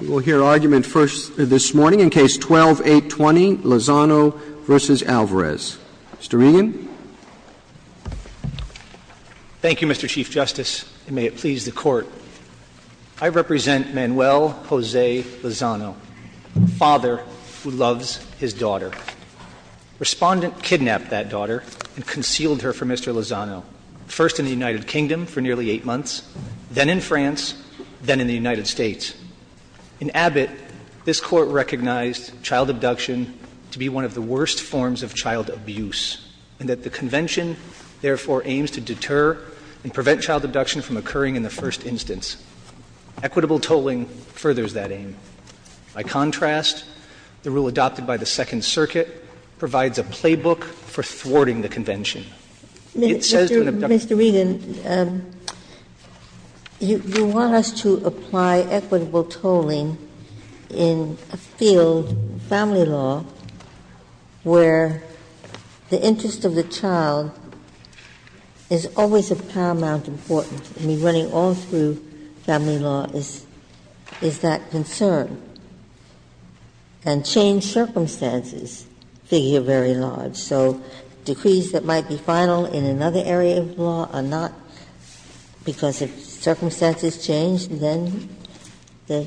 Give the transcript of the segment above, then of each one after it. We will hear argument first this morning in Case 12-820, Lozano v. Alvarez. Mr. Regan. Thank you, Mr. Chief Justice, and may it please the Court. I represent Manuel Jose Lozano, a father who loves his daughter. Respondent kidnapped that daughter and concealed her from Mr. Lozano, first in the United Kingdom for nearly 8 months, then in France, then in the United States. In Abbott, this Court recognized child abduction to be one of the worst forms of child abuse, and that the Convention, therefore, aims to deter and prevent child abduction from occurring in the first instance. Equitable tolling furthers that aim. By contrast, the rule adopted by the Second Circuit provides a playbook for thwarting the Convention. It says to an abductee. Ginsburg. Mr. Regan, you want us to apply equitable tolling in a field, family law, where the interest of the child is always of paramount importance. I mean, running all through family law is that concern. And change circumstances figure very large. So decrees that might be final in another area of law are not, because if circumstances change, then the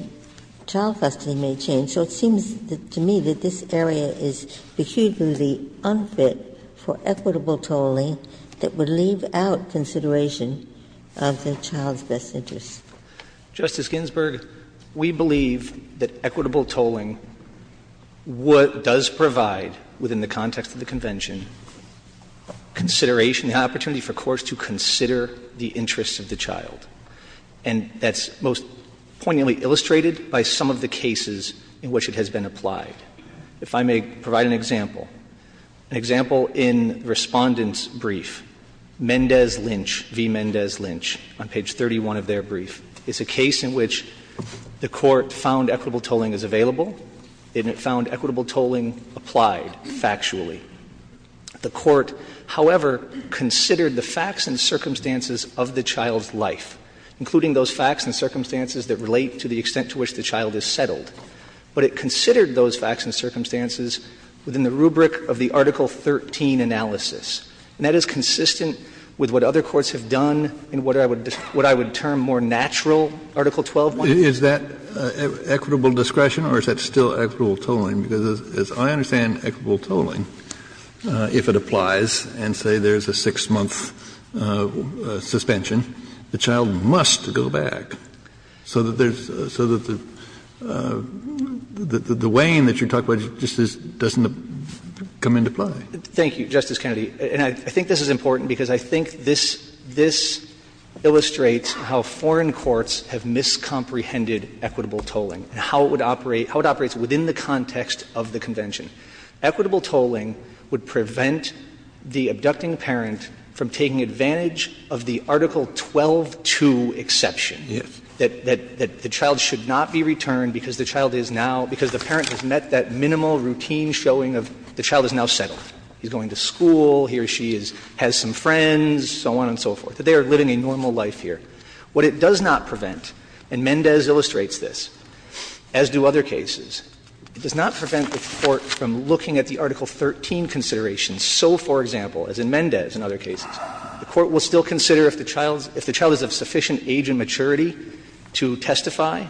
child custody may change. So it seems to me that this area is peculiarly unfit for equitable tolling that would leave out consideration of the child's best interests. Justice Ginsburg, we believe that equitable tolling does provide, within the context of the Convention, consideration, the opportunity for courts to consider the interests of the child. And that's most poignantly illustrated by some of the cases in which it has been applied. If I may provide an example, an example in Respondent's brief, Mendez-Lynch, v. Mendez-Lynch, on page 31 of their brief, is a case in which the Court found equitable tolling as available, and it found equitable tolling applied factually. The Court, however, considered the facts and circumstances of the child's life, including those facts and circumstances that relate to the extent to which the child is settled. But it considered those facts and circumstances within the rubric of the Article 13 analysis. And that is consistent with what other courts have done in what I would term more natural Article 12. Kennedy, is that equitable discretion or is that still equitable tolling? Because as I understand equitable tolling, if it applies and, say, there's a six-month suspension, the child must go back so that there's so that the weighing that you're talking about just doesn't come into play. Thank you, Justice Kennedy. And I think this is important because I think this illustrates how foreign courts have miscomprehended equitable tolling and how it would operate, how it operates within the context of the convention. Equitable tolling would prevent the abducting parent from taking advantage of the Article 12-2 exception. That the child should not be returned because the child is now – because the parent has met that minimal routine showing of the child is now settled. He's going to school. He or she has some friends, so on and so forth. They are living a normal life here. What it does not prevent, and Mendez illustrates this, as do other cases, it does not prevent the Court from looking at the Article 13 considerations. So, for example, as in Mendez and other cases, the Court will still consider if the child is of sufficient age and maturity to testify,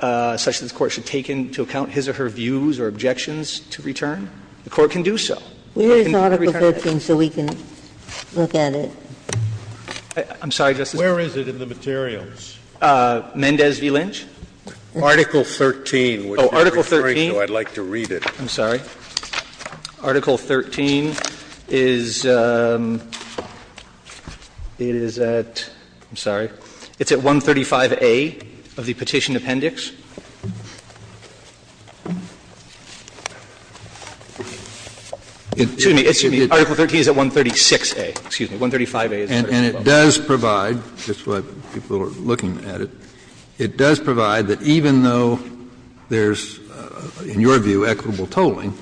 such that the Court should take into account his or her views or objections to return. The Court can do so. But it can't return it. Ginsburg. I'm sorry, Justice Kagan. Where is it in the materials? Mendez v. Lynch? Article 13. Oh, Article 13. I'd like to read it. I'm sorry. Article 13 is at – I'm sorry. It's at 135A of the Petition Appendix. Excuse me. Article 13 is at 136A. Excuse me. 135A is at 136A. And it does provide, just what people are looking at it, it does provide that even though there's, in your view, equitable tolling,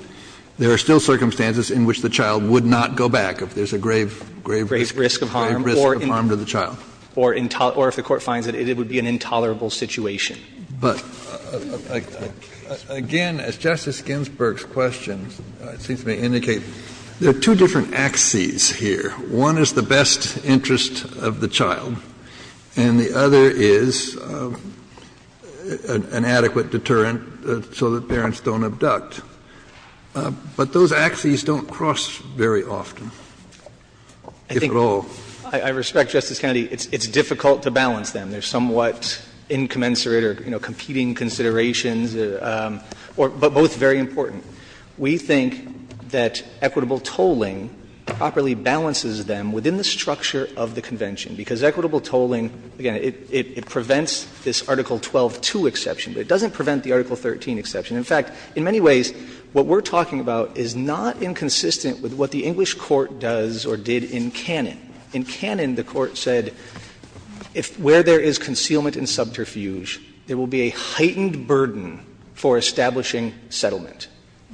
there are still circumstances in which the child would not go back if there's a grave, grave risk of harm to the child. Or if the Court finds that it would be an intolerable situation. But again, as Justice Ginsburg's questions, it seems to me, indicate there are two different axes here. One is the best interest of the child, and the other is an adequate deterrent so that parents don't abduct. But those axes don't cross very often, if at all. I think, I respect, Justice Kennedy, it's difficult to balance them. They're somewhat incommensurate or, you know, competing considerations, but both very important. We think that equitable tolling properly balances them within the structure of the Convention, because equitable tolling, again, it prevents this Article 12-2 exception, but it doesn't prevent the Article 13 exception. In fact, in many ways, what we're talking about is not inconsistent with what the English court does or did in canon. In canon, the Court said where there is concealment and subterfuge, there will be a heightened burden for establishing settlement.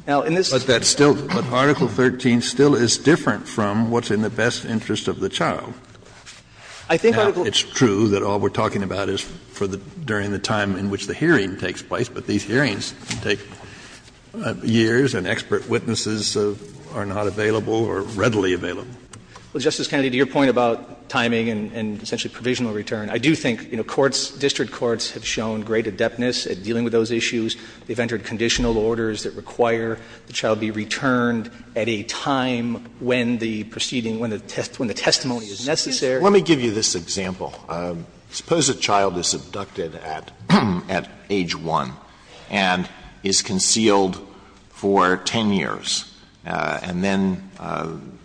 Now, in this case, I think that's true, but Article 13 still is different from what's in the best interest of the child. Now, it's true that all we're talking about is during the time in which the hearing takes place, but these hearings take years, and expert witnesses are not available or readily available. Well, Justice Kennedy, to your point about timing and essentially provisional return, I do think, you know, courts, district courts have shown great adeptness at dealing with those issues. They've entered conditional orders that require the child be returned at a time when the proceeding, when the testimony is necessary. Alito, let me give you this example. Suppose a child is abducted at age 1 and is concealed for 10 years, and then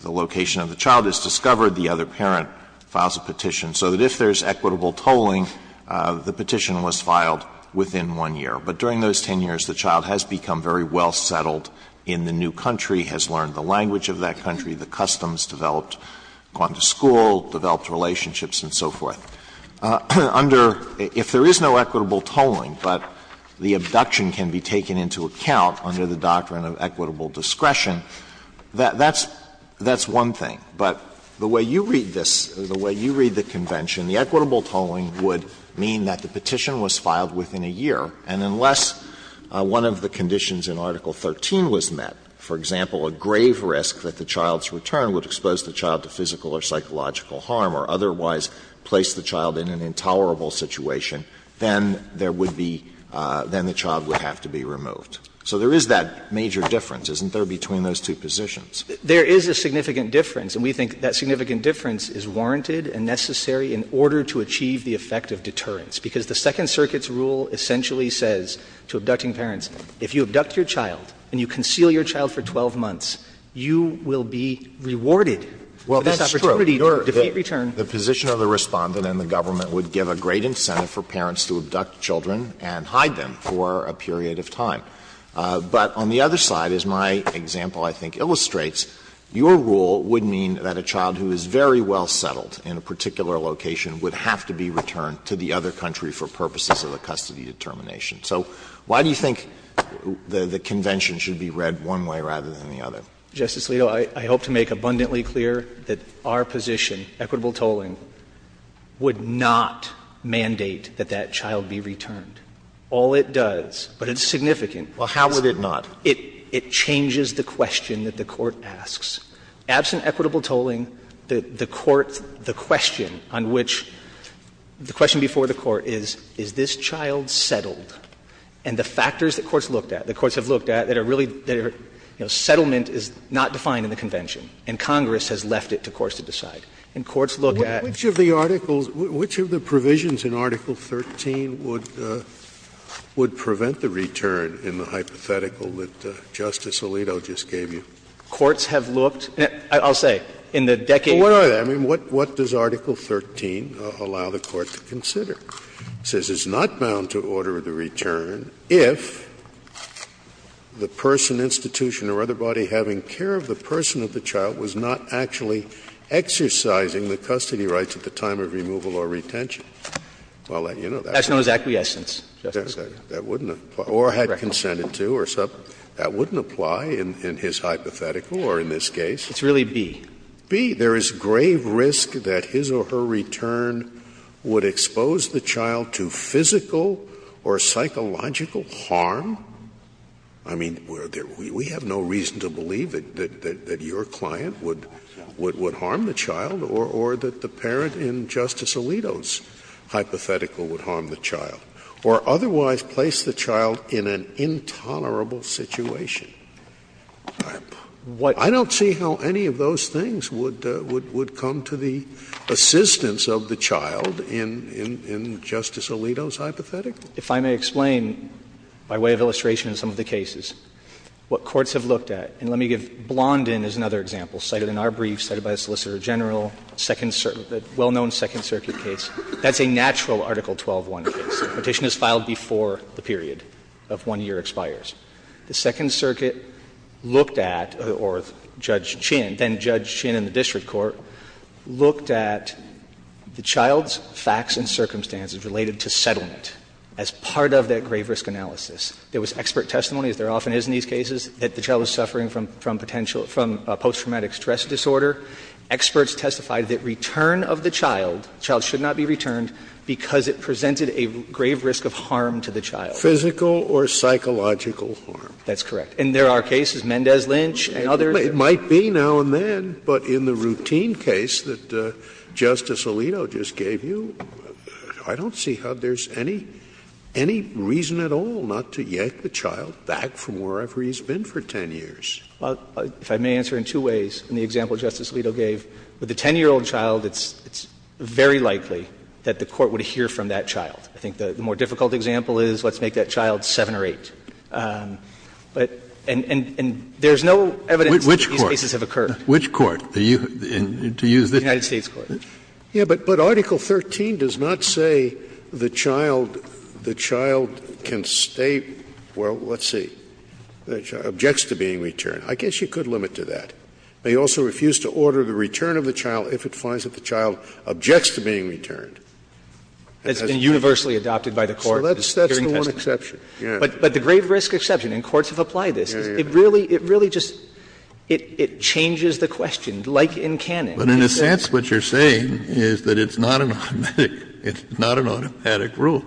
the location of the child is discovered, the other parent files a petition, so that if there's equitable tolling, the petition was filed within 1 year. But during those 10 years, the child has become very well settled in the new country, has learned the language of that country, the customs, developed, gone to school, developed relationships, and so forth. Under — if there is no equitable tolling, but the abduction can be taken into account under the doctrine of equitable discretion, that's one thing. But the way you read this, the way you read the convention, the equitable tolling would mean that the petition was filed within a year, and unless one of the conditions in Article 13 was met, for example, a grave risk that the child's return would expose the child to physical or psychological harm or otherwise place the child in an intolerable situation, then there would be — then the child would have to be removed. So there is that major difference, isn't there, between those two positions? There is a significant difference, and we think that significant difference is warranted and necessary in order to achieve the effect of deterrence. Because the Second Circuit's rule essentially says to abducting parents, if you abduct your child and you conceal your child for 12 months, you will be rewarded for this opportunity to get return. Alito, the position of the Respondent and the government would give a great incentive for parents to abduct children and hide them for a period of time. But on the other side, as my example, I think, illustrates, your rule would mean that a child who is very well settled in a particular location would have to be returned to the other country for purposes of a custody determination. So why do you think the convention should be read one way rather than the other? Justice Alito, I hope to make abundantly clear that our position, equitable tolling, would not mandate that that child be returned. All it does, but it's significant, is it changes the question that the Court asks. Absent equitable tolling, the Court's question on which the question before the Court is, is this child settled? And the factors that courts looked at, that courts have looked at, that are really their, you know, settlement is not defined in the convention, and Congress has left it to courts to decide. And courts look at the fact that the child is settled. Scalia, which of the articles, which of the provisions in Article 13 would, would prevent the return in the hypothetical that Justice Alito just gave you? Courts have looked, I'll say, in the decades. Scalia, I mean, what does Article 13 allow the Court to consider? It says it's not bound to order the return if the person, institution, or other body having care of the person of the child was not actually exercising the custody rights at the time of removal or retention. Well, you know that. That's known as acquiescence, Justice Scalia. That wouldn't apply. Or had consented to or something. That wouldn't apply in his hypothetical or in this case. It's really B. B. There is grave risk that his or her return would expose the child to physical or psychological harm. I mean, we have no reason to believe that your client would harm the child or that the parent in Justice Alito's hypothetical would harm the child, or otherwise place the child in an intolerable situation. I don't see how any of those things would come to the assistance of the child in Justice Alito's hypothetical. If I may explain, by way of illustration in some of the cases, what courts have looked at, and let me give Blondin as another example, cited in our brief, cited by the Solicitor General, well-known Second Circuit case, that's a natural Article 12-1 case. Petition is filed before the period of one year expires. The Second Circuit looked at, or Judge Chin, then Judge Chin in the district court, looked at the child's facts and circumstances related to settlement as part of that grave risk analysis. There was expert testimony, as there often is in these cases, that the child was suffering from potential – from post-traumatic stress disorder. Experts testified that return of the child, the child should not be returned because it presented a grave risk of harm to the child. Scalia Physical or psychological harm. Petitioner That's correct. And there are cases, Mendez-Lynch and others. Scalia It might be now and then, but in the routine case that Justice Alito just gave you, I don't see how there's any reason at all not to yank the child back from wherever he's been for 10 years. Petitioner Well, if I may answer in two ways, in the example Justice Alito gave, with a 10-year-old child, it's very likely that the court would hear from that child. I think the more difficult example is, let's make that child 7 or 8. But – and there's no evidence that these cases have occurred. Kennedy Which court? To use the – Petitioner The United States court. Scalia But Article 13 does not say the child can stay – well, let's see. The child objects to being returned. I guess you could limit to that. They also refuse to order the return of the child if it finds that the child objects to being returned. Petitioner It's been universally adopted by the court. Scalia So that's the one exception. Yeah. Petitioner But the grave risk exception, and courts have applied this, is it really – it really just – it changes the question, like in canon. Kennedy But in a sense what you're saying is that it's not an automatic – it's not an automatic rule.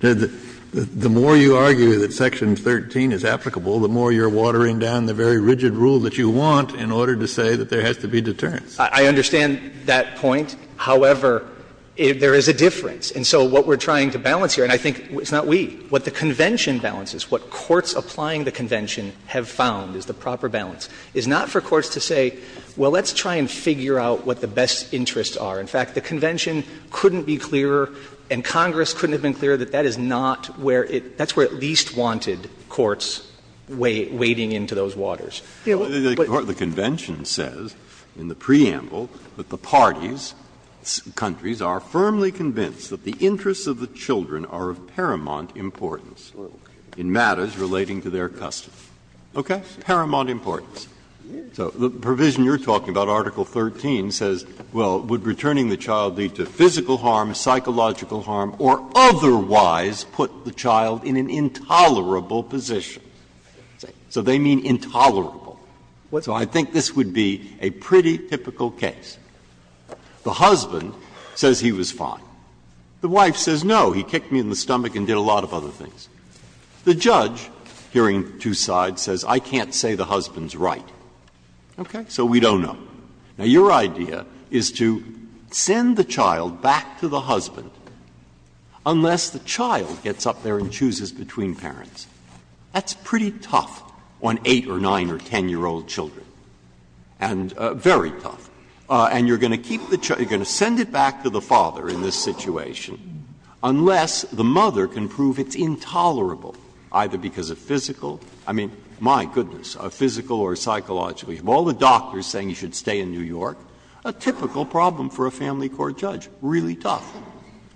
The more you argue that Section 13 is applicable, the more you're watering down the very rigid rule that you want in order to say that there has to be deterrence. Petitioner I understand that point. However, there is a difference. And so what we're trying to balance here, and I think it's not we, what the convention balances, what courts applying the convention have found is the proper balance, is not for courts to say, well, let's try and figure out what the best interests are. In fact, the convention couldn't be clearer and Congress couldn't have been clearer that that is not where it – that's where it least wanted courts wading into those waters. Breyer The convention says in the preamble that the parties, countries, are firmly convinced that the interests of the children are of paramount importance in matters relating to their custody. Okay? Paramount importance. So the provision you're talking about, Article 13, says, well, would returning the child lead to physical harm, psychological harm, or otherwise put the child in an intolerable position? So they mean intolerable. So I think this would be a pretty typical case. The husband says he was fine. The wife says no, he kicked me in the stomach and did a lot of other things. The judge, hearing two sides, says I can't say the husband's right. Okay? So we don't know. Now, your idea is to send the child back to the husband unless the child gets up there and chooses between parents. That's pretty tough on 8- or 9- or 10-year-old children, and very tough. And you're going to keep the child, you're going to send it back to the father in this situation unless the mother can prove it's intolerable, either because of physical, I mean, my goodness, physical or psychological. You have all the doctors saying you should stay in New York, a typical problem for a family court judge, really tough.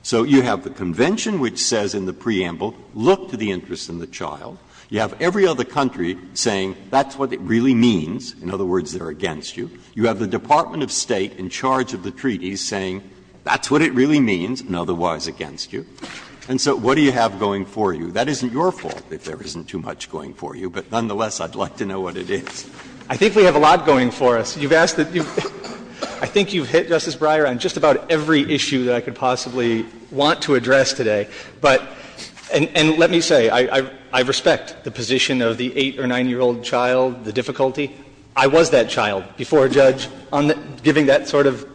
So you have the convention which says in the preamble, look to the interest in the child. You have every other country saying that's what it really means, in other words, they're against you. You have the Department of State in charge of the treaties saying that's what it really means and otherwise against you. And so what do you have going for you? That isn't your fault if there isn't too much going for you, but nonetheless, I'd like to know what it is. I think we have a lot going for us. You've asked that you've – I think you've hit, Justice Breyer, on just about every issue that I could possibly want to address today. But – and let me say, I respect the position of the 8 or 9-year-old child, the difficulty. I was that child before a judge on giving that sort of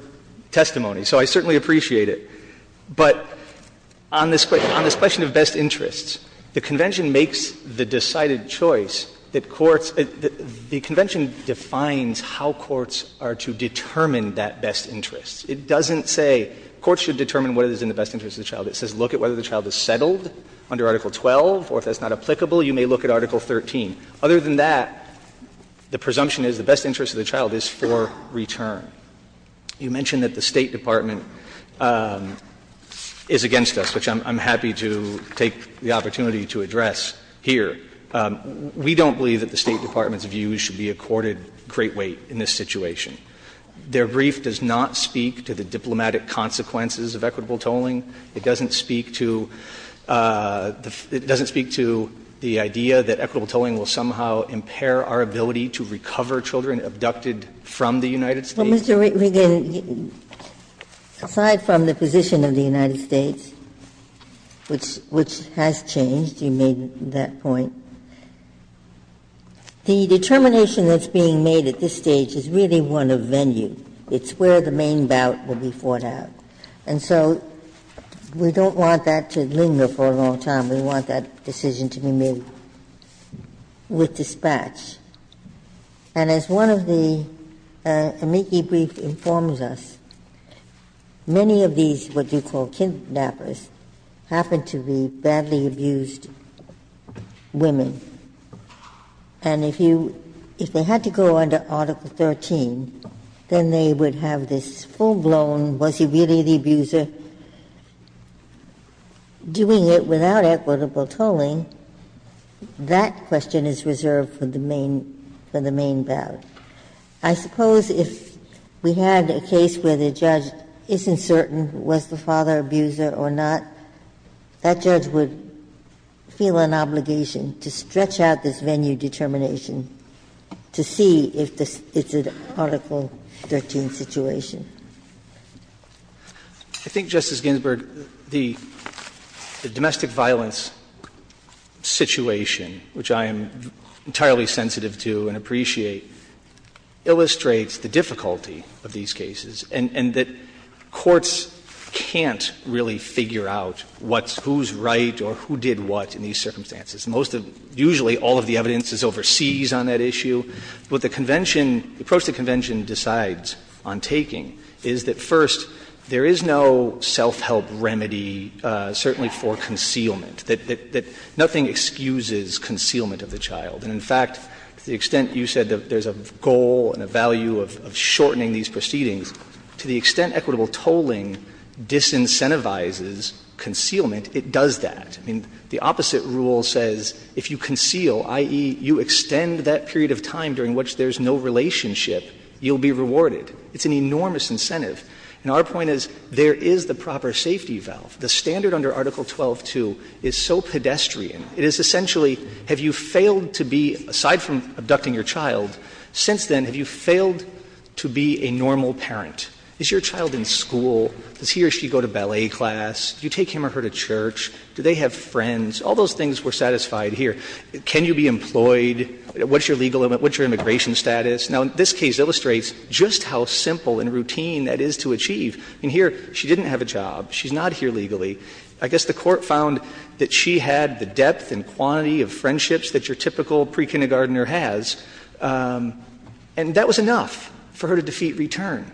testimony, so I certainly appreciate it. But on this question, on this question of best interests, the convention makes the decided choice that courts – the convention defines how courts are to determine that best interest. It doesn't say courts should determine what is in the best interest of the child. It says look at whether the child is settled under Article 12, or if that's not applicable, you may look at Article 13. Other than that, the presumption is the best interest of the child is for return. You mentioned that the State Department is against us, which I'm happy to take the opportunity to address here. We don't believe that the State Department's views should be accorded great weight in this situation. Their brief does not speak to the diplomatic consequences of equitable tolling. It doesn't speak to the – it doesn't speak to the idea that equitable tolling will somehow impair our ability to recover children abducted from the United States. Ginsburg-Gilmour, aside from the position of the United States, which has changed – you made that point – the determination that's being made at this stage is really one of venue. It's where the main bout will be fought out. And so we don't want that to linger for a long time. We want that decision to be made with dispatch. And as one of the amici briefs informs us, many of these what you call kidnappers happen to be badly abused women. And if you – if they had to go under Article 13, then they would have this full-blown was he really the abuser? Doing it without equitable tolling, that question is reserved for the main – for the main bout. I suppose if we had a case where the judge isn't certain was the father abuser or not, that judge would feel an obligation to stretch out this venue determination to see if it's an Article 13 situation. I think, Justice Ginsburg, the domestic violence situation, which I am entirely sensitive to and appreciate, illustrates the difficulty of these cases and that courts can't really figure out what's – who's right or who did what in these circumstances. Most of – usually all of the evidence is overseas on that issue. What the Convention – the approach the Convention decides on taking is that, first, there is no self-help remedy, certainly for concealment, that nothing excuses concealment of the child. And in fact, to the extent you said that there's a goal and a value of shortening these proceedings, to the extent equitable tolling disincentivizes concealment, it does that. I mean, the opposite rule says if you conceal, i.e., you extend that period of time during which there's no relationship, you'll be rewarded. It's an enormous incentive. And our point is there is the proper safety valve. The standard under Article 12-2 is so pedestrian. It is essentially have you failed to be, aside from abducting your child, since then, have you failed to be a normal parent? Is your child in school? Does he or she go to ballet class? Do you take him or her to church? Do they have friends? All those things were satisfied here. Can you be employed? What's your legal limit? What's your immigration status? Now, this case illustrates just how simple and routine that is to achieve. I mean, here she didn't have a job. She's not here legally. I guess the Court found that she had the depth and quantity of friendships that your typical prekindergartener has. And that was enough for her to defeat return.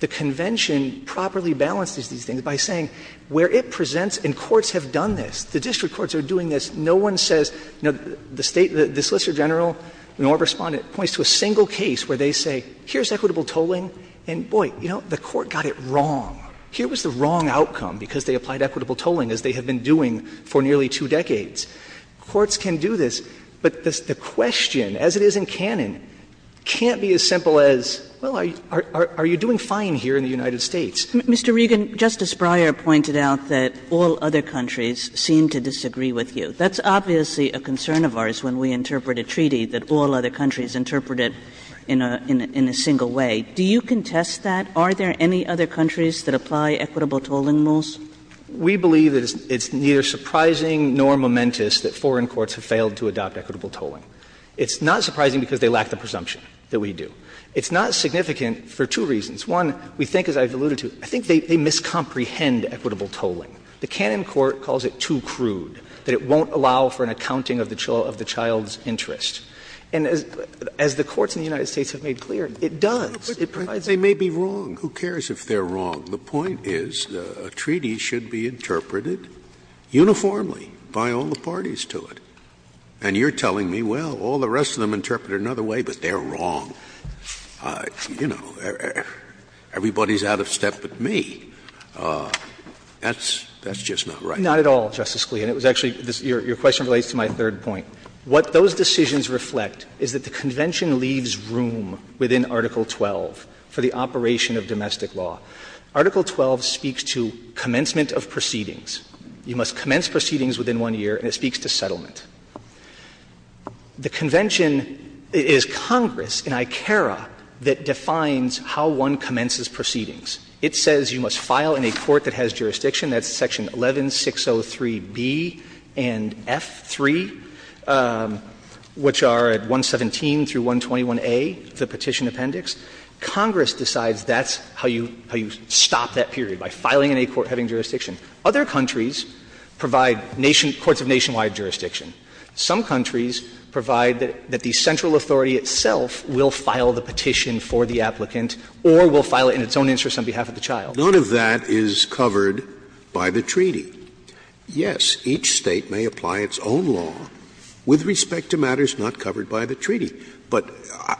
The Convention properly balances these things by saying where it presents, and courts have done this, the district courts are doing this, no one says, you know, the State, the Solicitor General, the law respondent, points to a single case where they say, here's equitable tolling, and boy, you know, the Court got it wrong. Here was the wrong outcome because they applied equitable tolling, as they have been doing for nearly two decades. Courts can do this, but the question, as it is in canon, can't be as simple as, well, are you doing fine here in the United States? Kagan. Mr. Regan, Justice Breyer pointed out that all other countries seem to disagree with you. That's obviously a concern of ours when we interpret a treaty that all other countries interpret it in a single way. Do you contest that? Are there any other countries that apply equitable tolling rules? Regan, Justice Breyer. We believe that it's neither surprising nor momentous that foreign courts have failed to adopt equitable tolling. It's not surprising because they lack the presumption that we do. It's not significant for two reasons. One, we think, as I've alluded to, I think they miscomprehend equitable tolling. The canon court calls it too crude, that it won't allow for an accounting of the child's interest. And as the courts in the United States have made clear, it does. It provides a way to make it clear. Scalia, they may be wrong. Who cares if they're wrong? The point is a treaty should be interpreted uniformly by all the parties to it. And you're telling me, well, all the rest of them interpret it another way, but they're wrong. You know, everybody's out of step but me. That's just not right. Not at all, Justice Scalia. And it was actually your question relates to my third point. What those decisions reflect is that the Convention leaves room within Article 12 for the operation of domestic law. Article 12 speaks to commencement of proceedings. You must commence proceedings within one year, and it speaks to settlement. The Convention is Congress, an ICARA, that defines how one commences proceedings. It says you must file in a court that has jurisdiction. That's section 11603B and F3, which are at 117 through 121A, the petition appendix. Congress decides that's how you stop that period, by filing in a court having jurisdiction. Other countries provide courts of nationwide jurisdiction. Some countries provide that the central authority itself will file the petition for the applicant or will file it in its own interest on behalf of the child. Scalia, none of that is covered by the treaty. Yes, each State may apply its own law with respect to matters not covered by the treaty. But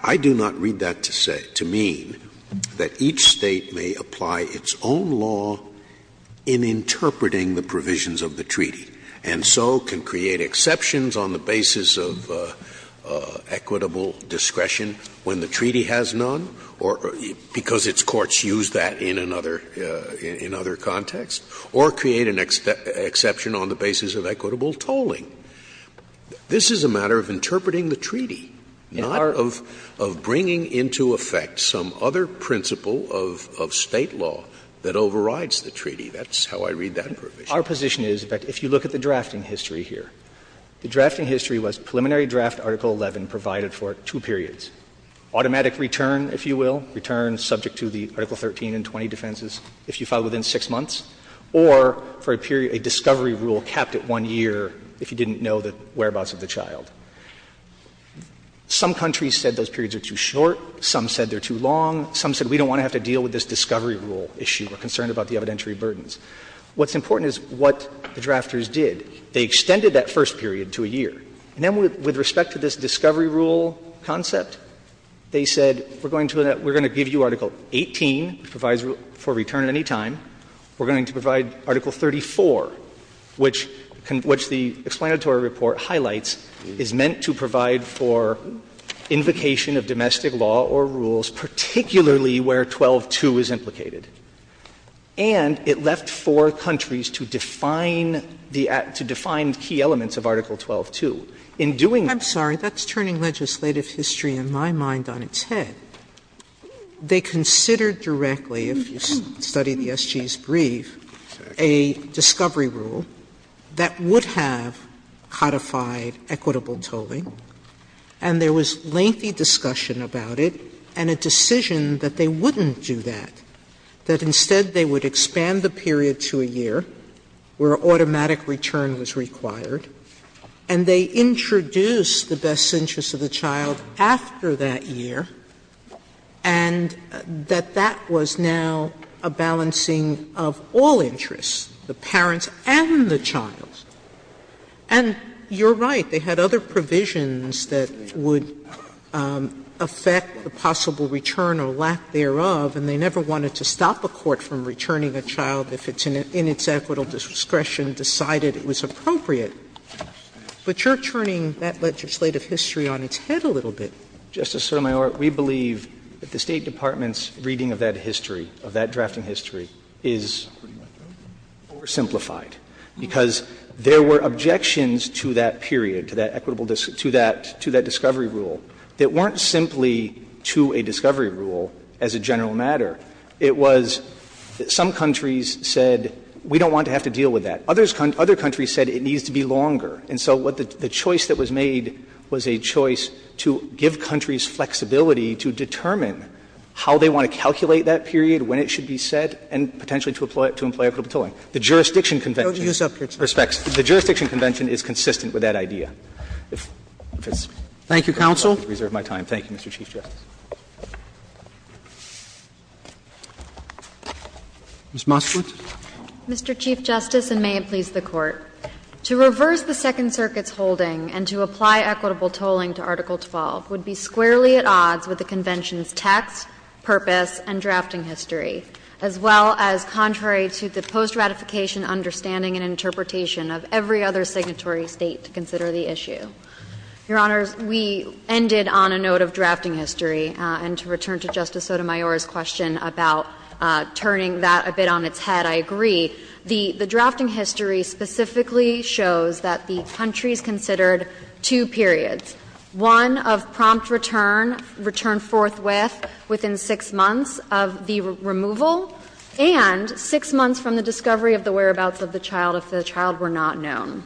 I do not read that to say, to mean that each State may apply its own law in interpreting the provisions of the treaty, and so can create exceptions on the basis of equitable discretion when the treaty has none or because its courts use that in another context, or create an exception on the basis of equitable tolling. This is a matter of interpreting the treaty, not of bringing into effect some other principle of State law that overrides the treaty. That's how I read that provision. Our position is, in fact, if you look at the drafting history here, the drafting history was preliminary draft Article 11 provided for two periods, automatic return, if you will, return subject to the Article 13 and 20 defenses if you file within 6 months, or for a period, a discovery rule capped at one year if you do not know the whereabouts of the child. Some countries said those periods are too short, some said they are too long, some said we don't want to have to deal with this discovery rule issue, we are concerned about the evidentiary burdens. What's important is what the drafters did. They extended that first period to a year. And then with respect to this discovery rule concept, they said we are going to give you Article 18, provides for return at any time, we are going to provide Article 34, which the explanatory report highlights is meant to provide for invocation of domestic law or rules, particularly where 12.2 is implicated. And it left four countries to define the key elements of Article 12.2. In doing that. Sotomayor, I'm sorry, that's turning legislative history in my mind on its head. They considered directly, if you study the SG's brief, a discovery rule that would have codified equitable tolling, and there was lengthy discussion about it and a decision that they wouldn't do that, that instead they would expand the period to a year where automatic return was required, and they introduced the best interest of the child after that year, and that that was now a balancing of all interests, the parents and the child. And you are right, they had other provisions that would affect the possible return or lack thereof, and they never wanted to stop a court from returning a child if it's in its equitable discretion, decided it was appropriate. But you're turning that legislative history on its head a little bit. Justice Sotomayor, we believe that the State Department's reading of that history, of that drafting history, is oversimplified, because there were objections to that period, to that equitable to that discovery rule that weren't simply to a discovery rule as a general matter. It was some countries said, we don't want to have to deal with that. Other countries said it needs to be longer. And so the choice that was made was a choice to give countries flexibility to determine how they want to calculate that period, when it should be set, and potentially to employ equitable tolling. The jurisdiction convention is consistent with that idea. If it's not, I will reserve my time. Thank you, Mr. Chief Justice. Roberts. Ms. Moskowitz. Mr. Chief Justice, and may it please the Court. To reverse the Second Circuit's holding and to apply equitable tolling to Article 12 would be squarely at odds with the Convention's text, purpose, and drafting history, as well as contrary to the post-ratification understanding and interpretation of every other signatory State to consider the issue. Your Honors, we ended on a note of drafting history. And to return to Justice Sotomayor's question about turning that a bit on its head, I agree. The drafting history specifically shows that the countries considered two periods, one of prompt return, return forthwith within 6 months of the removal, and 6 months from the discovery of the whereabouts of the child if the child were not known.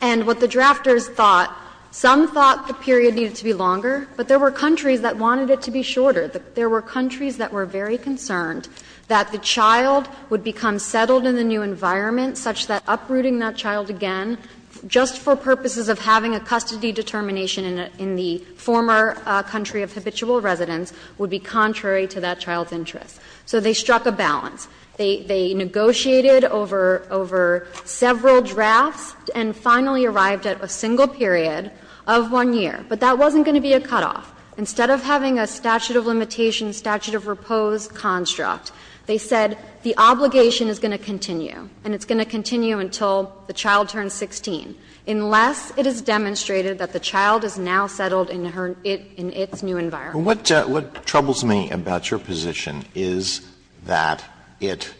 And what the drafters thought, some thought the period needed to be longer, but there were countries that wanted it to be shorter. There were countries that were very concerned that the child would become settled in the new environment such that uprooting that child again, just for purposes of having a custody determination in the former country of habitual residence, would be contrary to that child's interests. So they struck a balance. They negotiated over several drafts and finally arrived at a single period of 1 year. But that wasn't going to be a cutoff. Instead of having a statute of limitations, statute of repose construct, they said the obligation is going to continue and it's going to continue until the child turns 16, unless it is demonstrated that the child is now settled in her new environment. Alitoso, what troubles me about your position is that it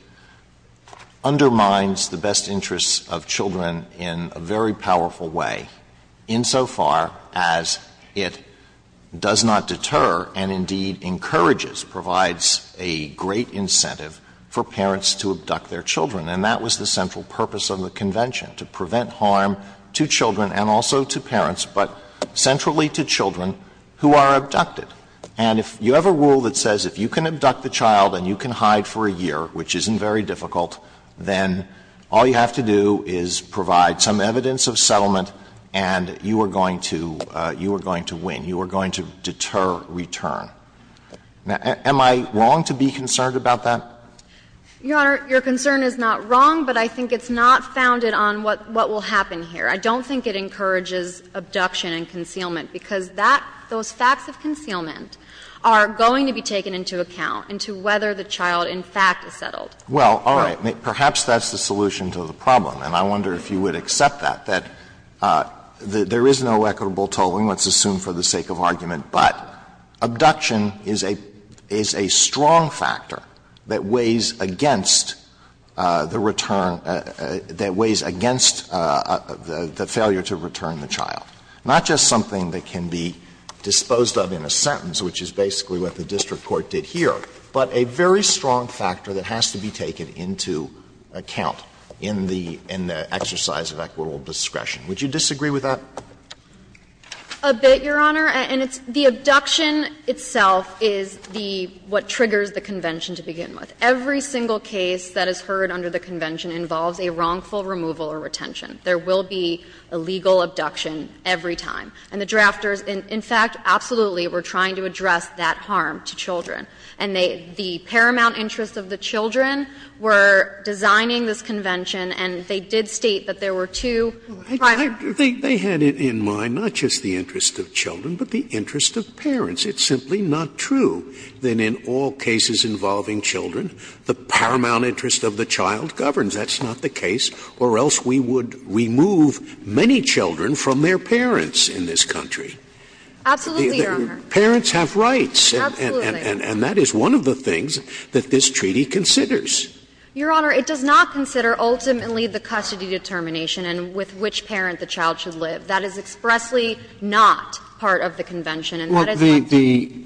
undermines the best interests of children in a very powerful way, insofar as it does not deter and indeed encourages, provides a great incentive for parents to abduct their children. And that was the central purpose of the convention, to prevent harm to children and also to parents, but centrally to children who are abducted. And if you have a rule that says if you can abduct the child and you can hide for a year, which isn't very difficult, then all you have to do is provide some evidence of settlement and you are going to win. You are going to deter return. Am I wrong to be concerned about that? Your Honor, your concern is not wrong, but I think it's not founded on what will happen here. I don't think it encourages abduction and concealment, because that, those facts of concealment are going to be taken into account into whether the child, in fact, is settled. Alitoso, perhaps that's the solution to the problem, and I wonder if you would accept that, that there is no equitable tolling, let's assume for the sake of argument, but abduction is a strong factor that weighs against the return, that weighs against the failure to return the child, not just something that can be disposed of by the sentence, which is basically what the district court did here, but a very strong factor that has to be taken into account in the exercise of equitable discretion. Would you disagree with that? A bit, Your Honor, and it's the abduction itself is the, what triggers the convention to begin with. Every single case that is heard under the convention involves a wrongful removal or retention. There will be a legal abduction every time. And the drafters, in fact, absolutely were trying to address that harm to children. And they, the paramount interests of the children were designing this convention, and they did state that there were two primary. Scalia, they had in mind not just the interest of children, but the interest of parents. It's simply not true that in all cases involving children, the paramount interest of the child governs. That's not the case, or else we would remove many children from their parents in this country. Absolutely, Your Honor. Parents have rights. Absolutely. And that is one of the things that this treaty considers. Your Honor, it does not consider ultimately the custody determination and with which parent the child should live. That is expressly not part of the convention, and that is not true. Well, the, the,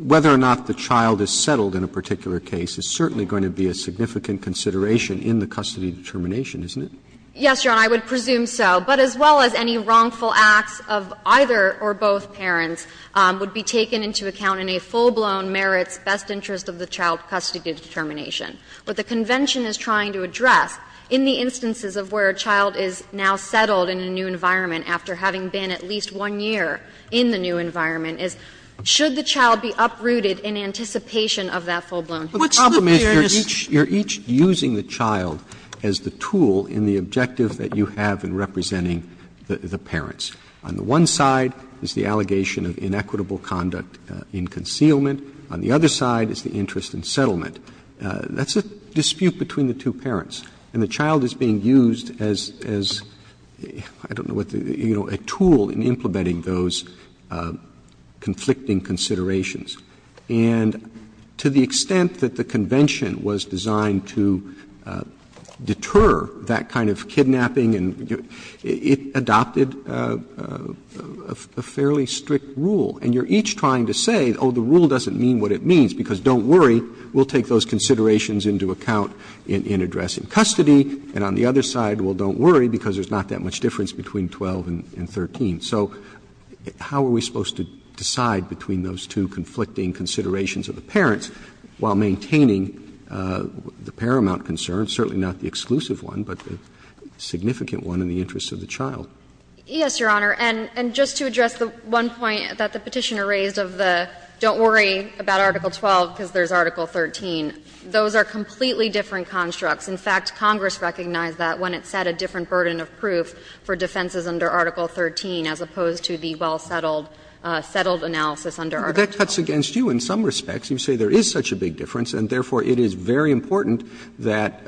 whether or not the child is settled in a particular case is certainly going to be a significant consideration in the custody determination, isn't it? Yes, Your Honor, I would presume so. But as well as any wrongful acts of either or both parents would be taken into account in a full-blown merits best interest of the child custody determination. What the convention is trying to address in the instances of where a child is now settled in a new environment after having been at least one year in the new environment is, should the child be uprooted in anticipation of that full-blown. What's the fairness? The problem is you are each using the child as the tool in the objective that you have in representing the parents. On the one side is the allegation of inequitable conduct in concealment. On the other side is the interest in settlement. That's a dispute between the two parents. And the child is being used as, as, I don't know what the, you know, a tool in implementing those conflicting considerations. And to the extent that the convention was designed to deter that kind of kidnapping and it adopted a fairly strict rule, and you are each trying to say, oh, the rule doesn't mean what it means, because don't worry, we will take those considerations into account in addressing custody. And on the other side, well, don't worry, because there is not that much difference between 12 and 13. So how are we supposed to decide between those two conflicting considerations of the parents while maintaining the paramount concern, certainly not the exclusive one, but the significant one in the interest of the child? Yes, Your Honor. And just to address the one point that the Petitioner raised of the don't worry about Article 12 because there is Article 13, those are completely different constructs. In fact, Congress recognized that when it set a different burden of proof for defenses under Article 13 as opposed to the well-settled, settled analysis under Article 12. Roberts But that cuts against you in some respects. You say there is such a big difference and therefore it is very important that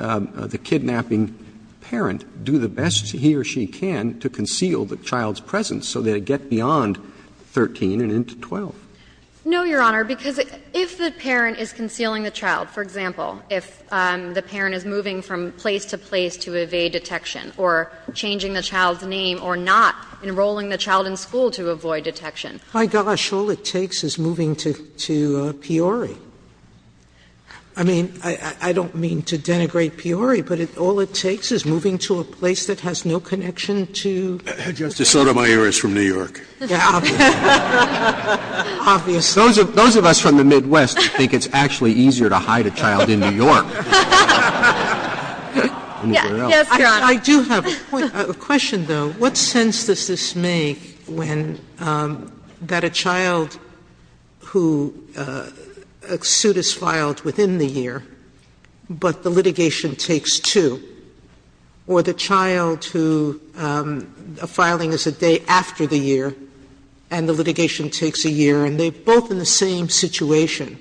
the kidnapping parent do the best he or she can to conceal the child's presence so that it get beyond 13 and into 12. No, Your Honor, because if the parent is concealing the child, for example, if the parent is moving from place to place to evade detection or changing the child's name or not enrolling the child in school to avoid detection. My gosh, all it takes is moving to Peoria. I mean, I don't mean to denigrate Peoria, but all it takes is moving to a place that has no connection to Peoria. Justice Sotomayor is from New York. Yeah, obviously. Obviously. Those of us from the Midwest think it's actually easier to hide a child in New York. Yes, Your Honor. I do have a question, though. What sense does this make when that a child who a suit is filed within the year, but the litigation takes two, or the child who a filing is a day after the year and the litigation takes a year, and they are both in the same situation?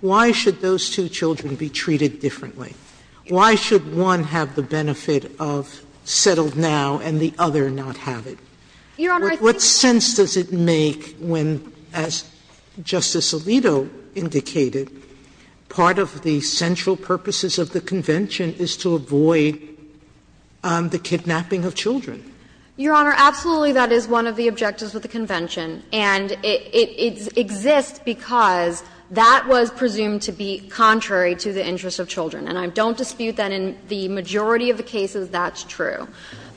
Why should those two children be treated differently? Why should one have the benefit of settled now and the other not have it? Your Honor, I think that's a good question. What sense does it make when, as Justice Alito indicated, part of the central purposes of the Convention is to avoid the kidnapping of children? Your Honor, absolutely that is one of the objectives of the Convention, and it exists because that was presumed to be contrary to the interests of children. And I don't dispute that in the majority of the cases that's true.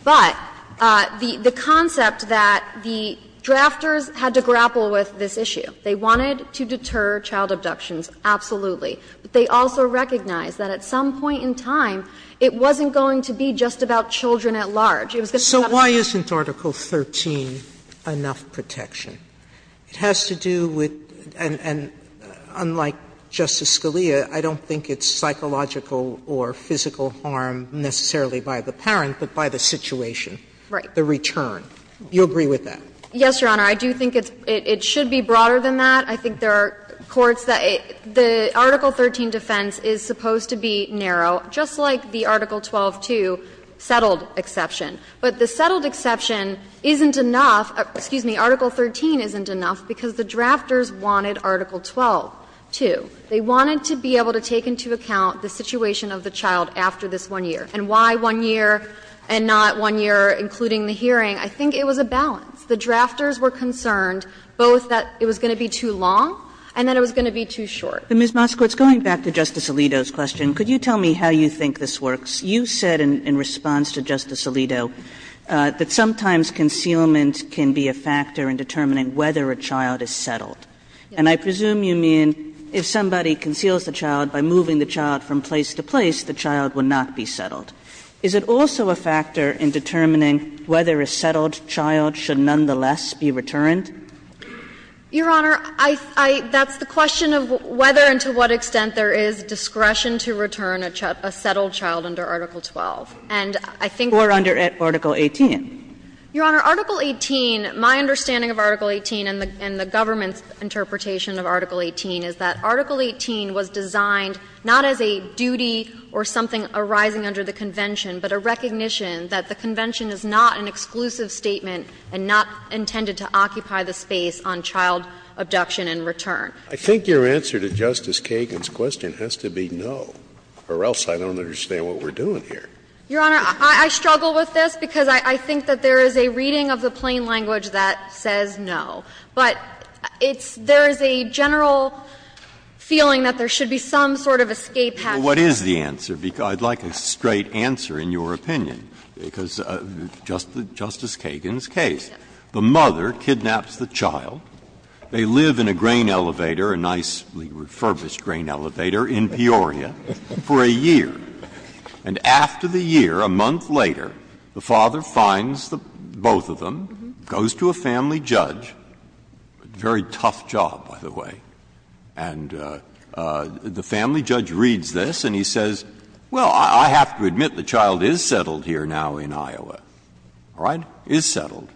But the concept that the drafters had to grapple with this issue, they wanted to deter child abductions, absolutely. But they also recognized that at some point in time it wasn't going to be just about It was going to be about children at home. Sotomayor So why isn't Article 13 enough protection? It has to do with, and unlike Justice Scalia, I don't think it's psychological or physical harm necessarily by the parent, but by the situation, the return. You agree with that? Yes, Your Honor. I do think it should be broader than that. I think there are courts that the Article 13 defense is supposed to be narrow, just like the Article 12-2 settled exception. But the settled exception isn't enough. Excuse me, Article 13 isn't enough because the drafters wanted Article 12-2. They wanted to be able to take into account the situation of the child after this one year. And why one year and not one year, including the hearing? I think it was a balance. The drafters were concerned both that it was going to be too long and that it was going to be too short. Kagan, Ms. Moskowitz, going back to Justice Alito's question, could you tell me how you think this works? You said in response to Justice Alito that sometimes concealment can be a factor in determining whether a child is settled. And I presume you mean if somebody conceals the child by moving the child from place to place, the child will not be settled. Is it also a factor in determining whether a settled child should nonetheless be returned? Your Honor, I think that's the question of whether and to what extent there is discretion to return a settled child under Article 12. And I think that's the question of whether and to what extent there is discretion to return a settled child under Article 12. to return a settled child under Article 12. Or under Article 18. Your Honor, Article 18, my understanding of Article 18 and the government's interpretation of Article 18 is that Article 18 was designed not as a duty or something arising under the Convention, but a recognition that the Convention is not an exclusive statement and not intended to occupy the space on child abduction and return. Scalia, I think your answer to Justice Kagan's question has to be no, or else I don't understand what we're doing here. Your Honor, I struggle with this because I think that there is a reading of the plain language that says no. But it's – there is a general feeling that there should be some sort of escape hatch. Breyer, what is the answer? I'd like a straight answer in your opinion, because Justice Kagan's case. The mother kidnaps the child. They live in a grain elevator, a nicely refurbished grain elevator in Peoria for a year. And after the year, a month later, the father finds the both of them, goes to a family judge, very tough job, by the way, and the family judge reads this and he says, well, I have to admit the child is settled here now in Iowa. All right? Is settled.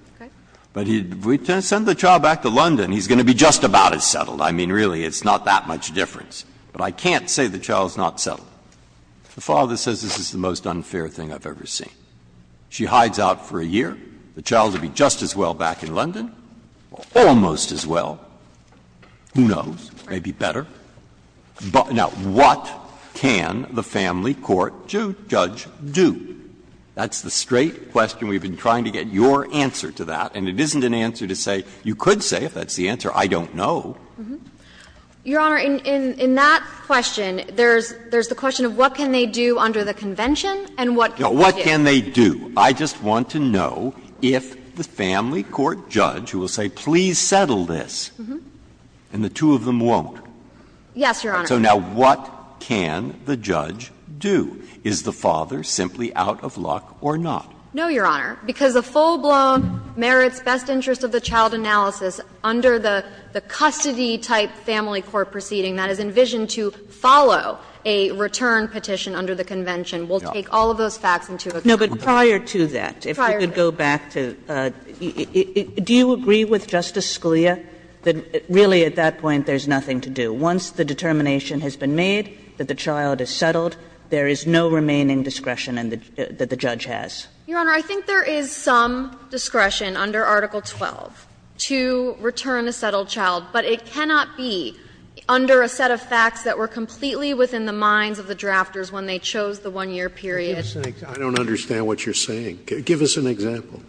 But if we send the child back to London, he's going to be just about as settled. I mean, really, it's not that much difference. But I can't say the child is not settled. The father says this is the most unfair thing I've ever seen. She hides out for a year. The child will be just as well back in London, or almost as well. Who knows? Maybe better. Now, what can the family court judge do? That's the straight question we've been trying to get your answer to that, and it isn't an answer to say, you could say, if that's the answer, I don't know. Your Honor, in that question, there's the question of what can they do under the convention and what can they do? What can they do? I just want to know if the family court judge who will say please settle this, and the two of them won't. Yes, Your Honor. So now what can the judge do? Is the father simply out of luck or not? No, Your Honor, because a full-blown merits best interest of the child analysis under the custody-type family court proceeding that is envisioned to follow a return petition under the convention will take all of those facts into account. No, but prior to that, if we could go back to the do you agree with Justice Scalia that really at that point there's nothing to do? That once the determination has been made that the child is settled, there is no remaining discretion that the judge has? Your Honor, I think there is some discretion under Article 12 to return a settled child, but it cannot be under a set of facts that were completely within the minds of the drafters when they chose the one-year period. I don't understand what you're saying. Give us an example.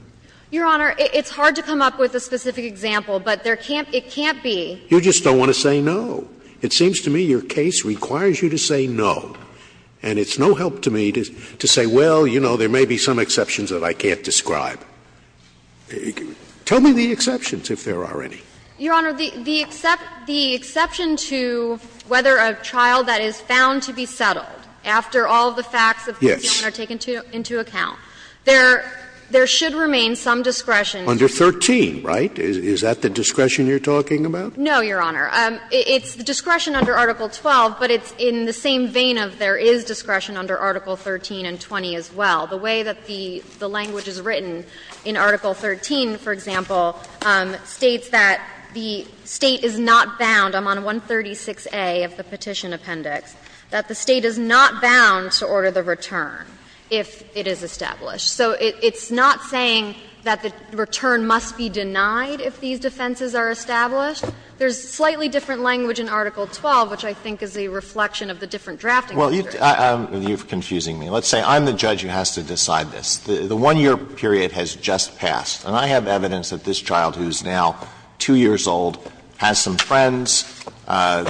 Your Honor, it's hard to come up with a specific example, but there can't be. You just don't want to say no. It seems to me your case requires you to say no, and it's no help to me to say, well, you know, there may be some exceptions that I can't describe. Tell me the exceptions, if there are any. Your Honor, the exception to whether a child that is found to be settled, after all the facts of the case are taken into account, there should remain some discretion. Under 13, right? Is that the discretion you're talking about? No, Your Honor. It's discretion under Article 12, but it's in the same vein of there is discretion under Article 13 and 20 as well. The way that the language is written in Article 13, for example, states that the State is not bound, I'm on 136A of the Petition Appendix, that the State is not bound to order the return if it is established. So it's not saying that the return must be denied if these defenses are established. There's slightly different language in Article 12, which I think is a reflection of the different drafting procedures. Alito, you're confusing me. Let's say I'm the judge who has to decide this. The one-year period has just passed, and I have evidence that this child, who is now 2 years old, has some friends,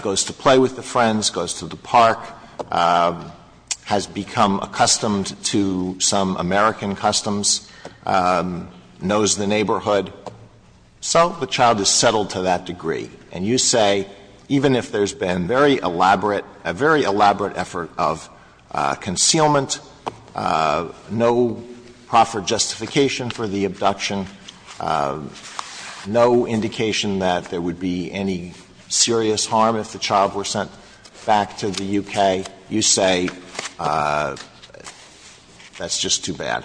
goes to play with the friends, goes to the park, has become accustomed to some American customs, knows the neighborhood. So the child is settled to that degree, and you say, even if there's been very elaborate, a very elaborate effort of concealment, no proffered justification for the abduction, no indication that there would be any serious harm if the child were sent back to the U.K., you say that's just too bad.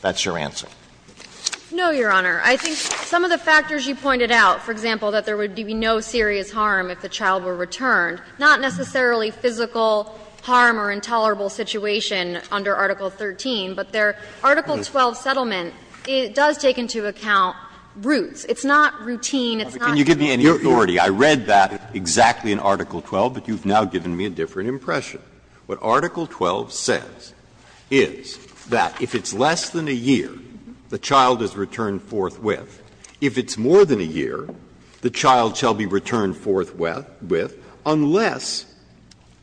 That's your answer. No, Your Honor. I think some of the factors you pointed out, for example, that there would be no serious harm if the child were returned, not necessarily physical harm or intolerable situation under Article 13, but there, Article 12 settlement, it does take into account roots. It's not routine. It's not just a matter of time. Breyer. Breyer. I read that exactly in Article 12, but you've now given me a different impression. What Article 12 says is that if it's less than a year, the child is returned forthwith. If it's more than a year, the child shall be returned forthwith unless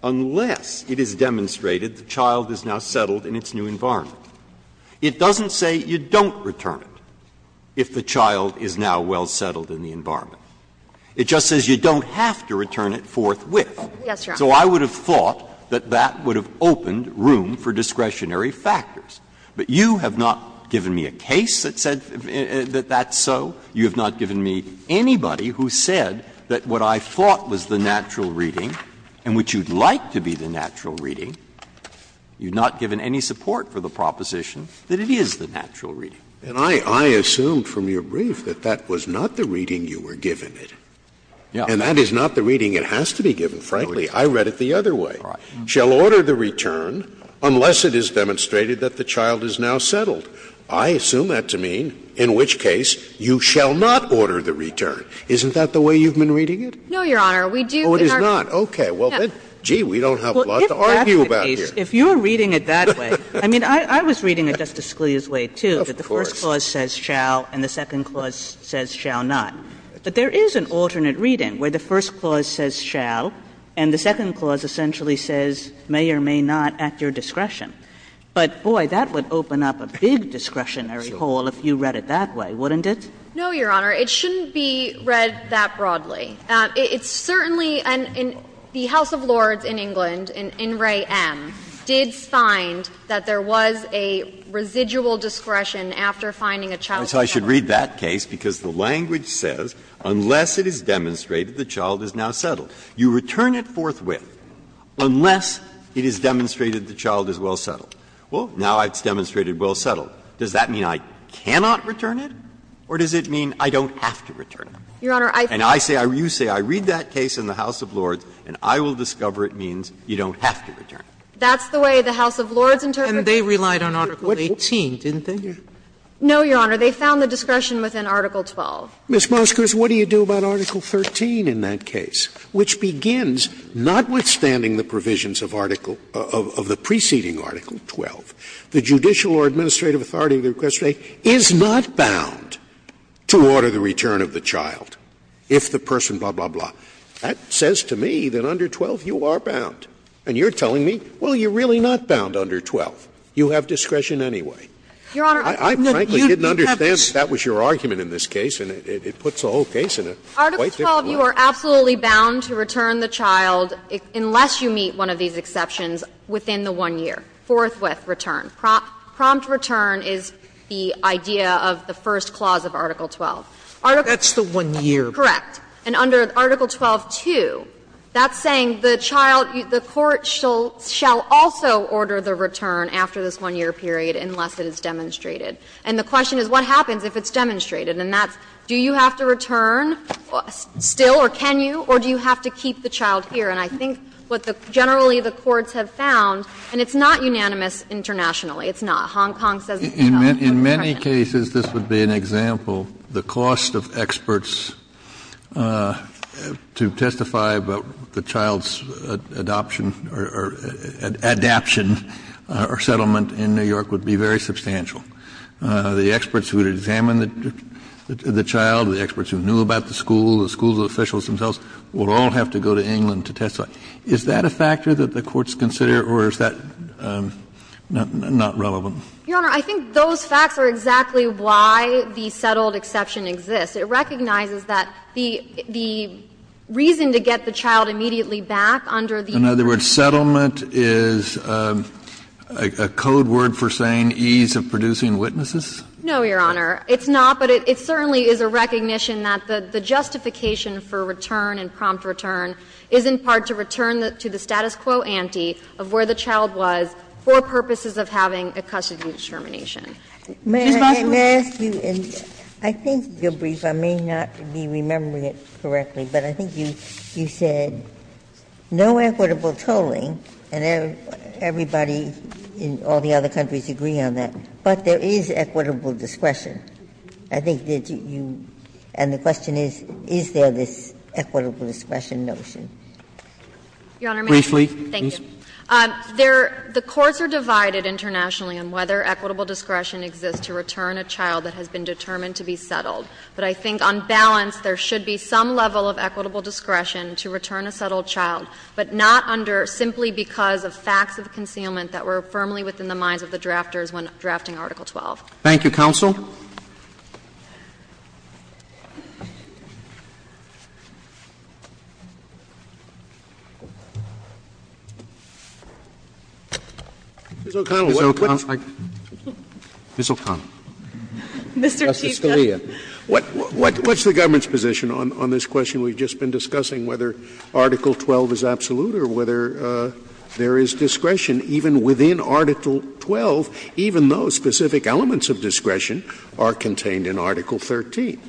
unless it is demonstrated the child is now settled in its new environment. It doesn't say you don't return it if the child is now well settled in the environment. It just says you don't have to return it forthwith. Yes, Your Honor. So I would have thought that that would have opened room for discretionary factors. But you have not given me a case that said that that's so. You have not given me anybody who said that what I thought was the natural reading and which you'd like to be the natural reading, you've not given any support for the proposition that it is the natural reading. Scalia. And I assumed from your brief that that was not the reading you were given. And that is not the reading it has to be given, frankly. I read it the other way. I assume that to mean, in which case, you shall not order the return. Isn't that the way you've been reading it? No, Your Honor. We do in our case. Oh, it is not. Okay. Well, then, gee, we don't have a lot to argue about here. If you're reading it that way, I mean, I was reading it Justice Scalia's way, too, that the first clause says shall and the second clause says shall not. But there is an alternate reading where the first clause says shall and the second clause essentially says may or may not at your discretion. But, boy, that would open up a big discretionary hole if you read it that way, wouldn't it? No, Your Honor. It shouldn't be read that broadly. It's certainly an – the House of Lords in England, in Ray M., did find that there was a residual discretion after finding a child. So I should read that case because the language says unless it is demonstrated, the child is now settled. You return it forthwith unless it is demonstrated the child is well settled. Well, now it's demonstrated well settled. Does that mean I cannot return it or does it mean I don't have to return it? Your Honor, I think that's the way the House of Lords interpreted it. And they relied on Article 18, didn't they? No, Your Honor. They found the discretion within Article 12. Ms. Moskers, what do you do about Article 13 in that case? Which begins, notwithstanding the provisions of Article – of the preceding Article 12, the judicial or administrative authority to request a rate is not bound to order the return of the child if the person blah, blah, blah. That says to me that under 12 you are bound. And you're telling me, well, you're really not bound under 12. You have discretion anyway. Your Honor, you have this. I frankly didn't understand if that was your argument in this case, and it puts the whole case in a quite different light. Article 12, you are absolutely bound to return the child unless you meet one of these exceptions within the one year, forthwith return. Prompt return is the idea of the first clause of Article 12. Sotomayor, that's the one year. Correct. And under Article 12.2, that's saying the child – the court shall also order the return after this one-year period unless it is demonstrated. And the question is what happens if it's demonstrated? And that's do you have to return still, or can you, or do you have to keep the child here? And I think what the – generally the courts have found, and it's not unanimous internationally. It's not. Hong Kong says it's not. In many cases, this would be an example. The cost of experts to testify about the child's adoption or adaption or settlement in New York would be very substantial. The experts who would examine the child, the experts who knew about the school, the school officials themselves, would all have to go to England to testify. Is that a factor that the courts consider, or is that not relevant? Your Honor, I think those facts are exactly why the settled exception exists. It recognizes that the reason to get the child immediately back under the year. Kennedy, in other words, settlement is a code word for saying ease of producing witnesses? No, Your Honor. It's not, but it certainly is a recognition that the justification for return and prompt return is in part to return to the status quo ante of where the child was for purposes of having a custody determination. Ms. Busser. May I ask you, and I think you're brief. There is equitable tolling, and everybody in all the other countries agree on that, but there is equitable discretion. I think that you – and the question is, is there this equitable discretion Briefly, please. Your Honor, the courts are divided internationally on whether equitable discretion exists to return a child that has been determined to be settled. But I think on balance there should be some level of equitable discretion to return a settled child, but not under simply because of facts of concealment that were firmly within the minds of the drafters when drafting Article 12. Thank you, counsel. Ms. O'Connell, what's the government's position on this question we've just been 12 is absolute, or whether there is discretion even within Article 12, even though specific elements of discretion are contained in Article 13?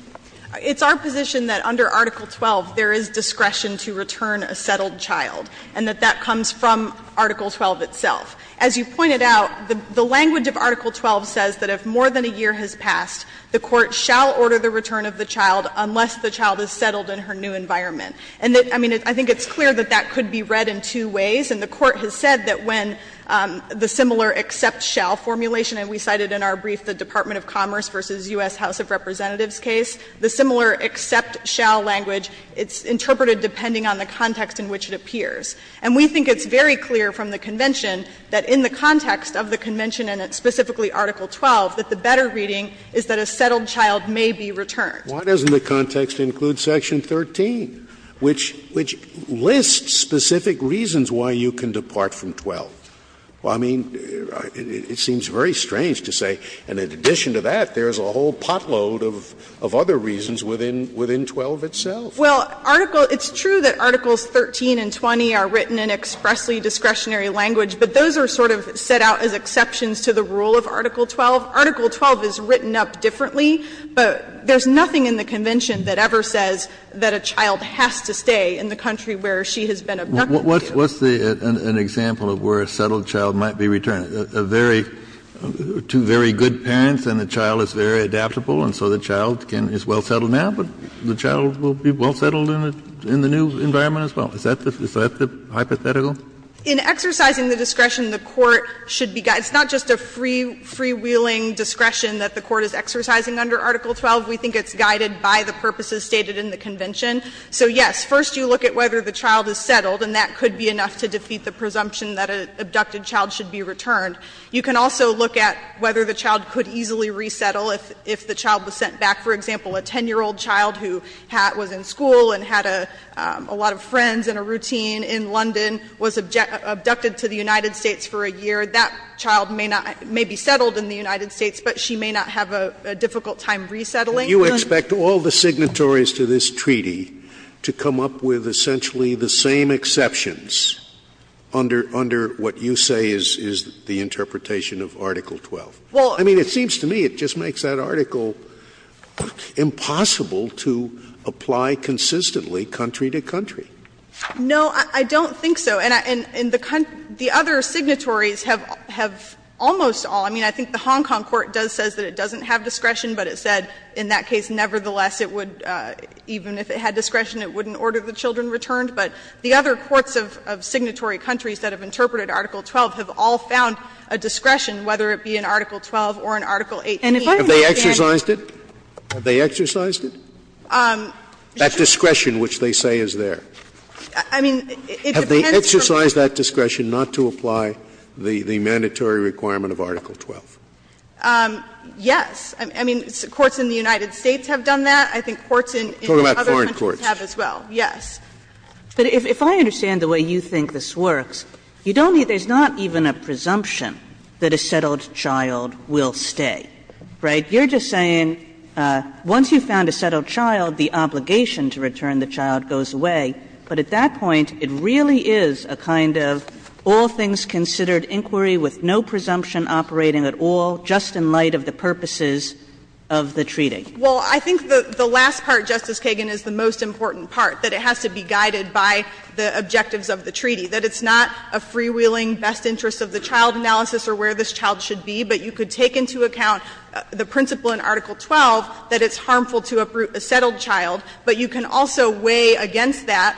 It's our position that under Article 12 there is discretion to return a settled child, and that that comes from Article 12 itself. As you pointed out, the language of Article 12 says that if more than a year has passed, the court shall order the return of the child unless the child is settled in her new environment. And I mean, I think it's clear that that could be read in two ways. And the Court has said that when the similar except shall formulation, and we cited in our brief the Department of Commerce v. U.S. House of Representatives case, the similar except shall language, it's interpreted depending on the context in which it appears. And we think it's very clear from the Convention that in the context of the Convention and specifically Article 12, that the better reading is that a settled child may be returned. Scalia, why doesn't the context include Section 13, which lists specific reasons why you can depart from 12? I mean, it seems very strange to say, and in addition to that, there is a whole pot load of other reasons within 12 itself. Well, Article 13 and 20 are written in expressly discretionary language, but those are sort of set out as exceptions to the rule of Article 12. Article 12 is written up differently, but there's nothing in the Convention that ever says that a child has to stay in the country where she has been abducted to. Kennedy, what's the example of where a settled child might be returned? A very, two very good parents, and the child is very adaptable, and so the child is well settled now, but the child will be well settled in the new environment as well. Is that the hypothetical? In exercising the discretion, the Court should be guided. It's not just a freewheeling discretion that the Court is exercising under Article 12. We think it's guided by the purposes stated in the Convention. So, yes, first you look at whether the child is settled, and that could be enough to defeat the presumption that an abducted child should be returned. You can also look at whether the child could easily resettle if the child was sent back. For example, a 10-year-old child who was in school and had a lot of friends and a routine in London was abducted to the United States for a year. That child may not be settled in the United States, but she may not have a difficult time resettling. Scalia Do you expect all the signatories to this treaty to come up with essentially the same exceptions under what you say is the interpretation of Article 12? I mean, it seems to me it just makes that article impossible to apply consistently country to country. No, I don't think so. And the other signatories have almost all, I mean, I think the Hong Kong court does say that it doesn't have discretion, but it said in that case nevertheless it would, even if it had discretion, it wouldn't order the children returned. But the other courts of signatory countries that have interpreted Article 12 have all found a discretion, whether it be in Article 12 or in Article 18. And if I may, Mr. Kennedy. Scalia Have they exercised it? Have they exercised it? That discretion which they say is there. Have they exercised that discretion not to apply the mandatory requirement of Article 12? Yes. I mean, courts in the United States have done that. I think courts in other countries have as well. Scalia Talk about foreign courts. Yes. Kagan But if I understand the way you think this works, you don't need to say there's not even a presumption that a settled child will stay, right? You're just saying once you've found a settled child, the obligation to return the child goes away. But at that point, it really is a kind of all things considered inquiry with no presumption operating at all, just in light of the purposes of the treaty. Well, I think the last part, Justice Kagan, is the most important part, that it has to be guided by the objectives of the treaty, that it's not a freewheeling best interest of the child analysis or where this child should be, but you could take into account the principle in Article 12 that it's harmful to uproot a settled child, but you can also weigh against that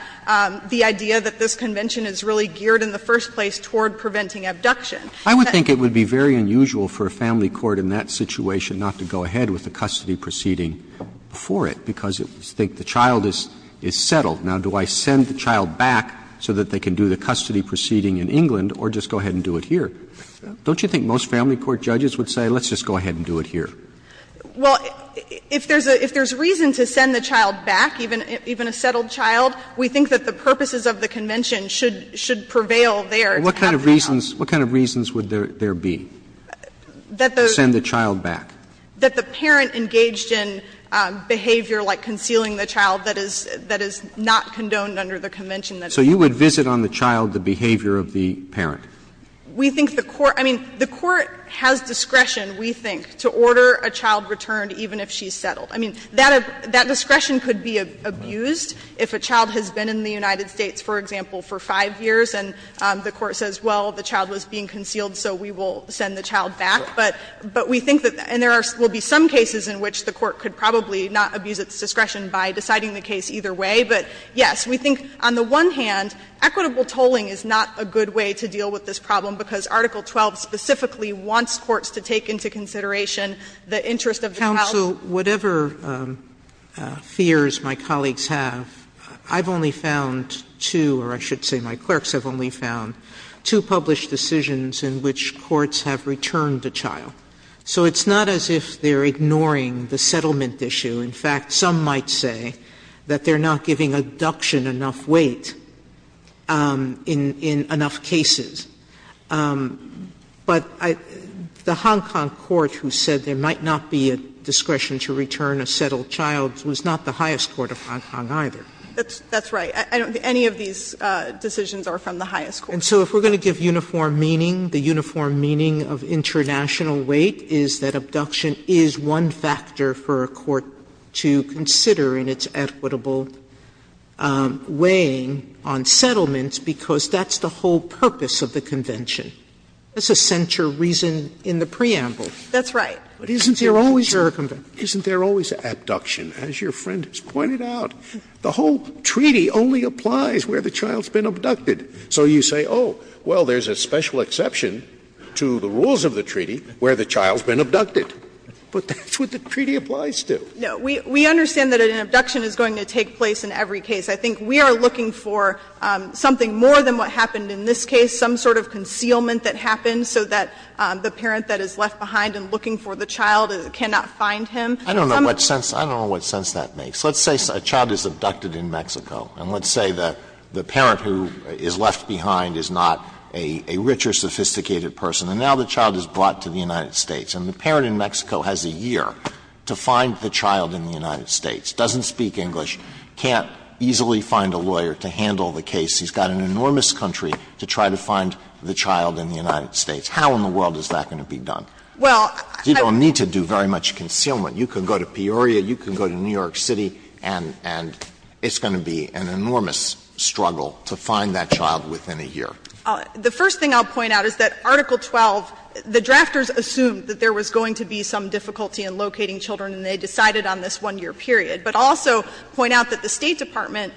the idea that this convention is really geared in the first place toward preventing abduction. Roberts I would think it would be very unusual for a family court in that situation not to go ahead with the custody proceeding before it, because it would think the child is settled. Now, do I send the child back so that they can do the custody proceeding in England or just go ahead and do it here? Don't you think most family court judges would say, let's just go ahead and do it here? Well, if there's a reason to send the child back, even a settled child, we think that the purposes of the convention should prevail there to have the child. Roberts What kind of reasons would there be to send the child back? That the parent engaged in behavior like concealing the child that is not condoned under the convention that's in place. Roberts So you would visit on the child the behavior of the parent? We think the court – I mean, the court has discretion, we think, to order the child returned even if she's settled. I mean, that discretion could be abused if a child has been in the United States, for example, for 5 years and the court says, well, the child was being concealed so we will send the child back. But we think that – and there will be some cases in which the court could probably not abuse its discretion by deciding the case either way, but, yes, we think on the one hand, equitable tolling is not a good way to deal with this problem, because Article 12 specifically wants courts to take into consideration the interest of the child. Sotomayor Counsel, whatever fears my colleagues have, I've only found two – or I should say my clerks have only found two published decisions in which courts have returned a child. So it's not as if they're ignoring the settlement issue. In fact, some might say that they're not giving adduction enough weight in enough cases. But the Hong Kong court who said there might not be a discretion to return a settled child was not the highest court of Hong Kong either. That's right. I don't think any of these decisions are from the highest court. And so if we're going to give uniform meaning, the uniform meaning of international weight is that abduction is one factor for a court to consider in its equitable tolling, and that's why there's no weighing on settlements, because that's the whole purpose of the convention. That's a central reason in the preamble. That's right. But isn't there always abduction, as your friend has pointed out? The whole treaty only applies where the child's been abducted. So you say, oh, well, there's a special exception to the rules of the treaty where the child's been abducted. But that's what the treaty applies to. We understand that an abduction is going to take place in every case. I think we are looking for something more than what happened in this case, some sort of concealment that happened so that the parent that is left behind and looking for the child cannot find him. I don't know what sense that makes. Let's say a child is abducted in Mexico, and let's say that the parent who is left behind is not a richer, sophisticated person. And now the child is brought to the United States, and the parent in Mexico has a year to find the child in the United States, doesn't speak English, can't easily find a lawyer to handle the case. He's got an enormous country to try to find the child in the United States. How in the world is that going to be done? Well, I don't know. You don't need to do very much concealment. You can go to Peoria, you can go to New York City, and it's going to be an enormous struggle to find that child within a year. The first thing I'll point out is that Article 12, the drafters assumed that there was going to be some difficulty in locating children, and they decided on this one-year period, but also point out that the State Department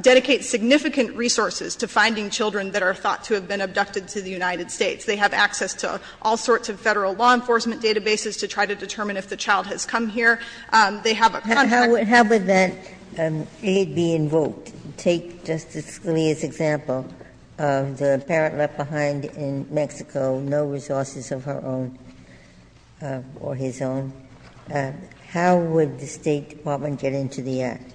dedicates significant resources to finding children that are thought to have been abducted to the United States. They have access to all sorts of Federal law enforcement databases to try to determine if the child has come here. They have a contract. Ginsburg. How would that aid be invoked? Take Justice Scalia's example of the parent left behind in Mexico, no resources of her own or his own. How would the State Department get into the act?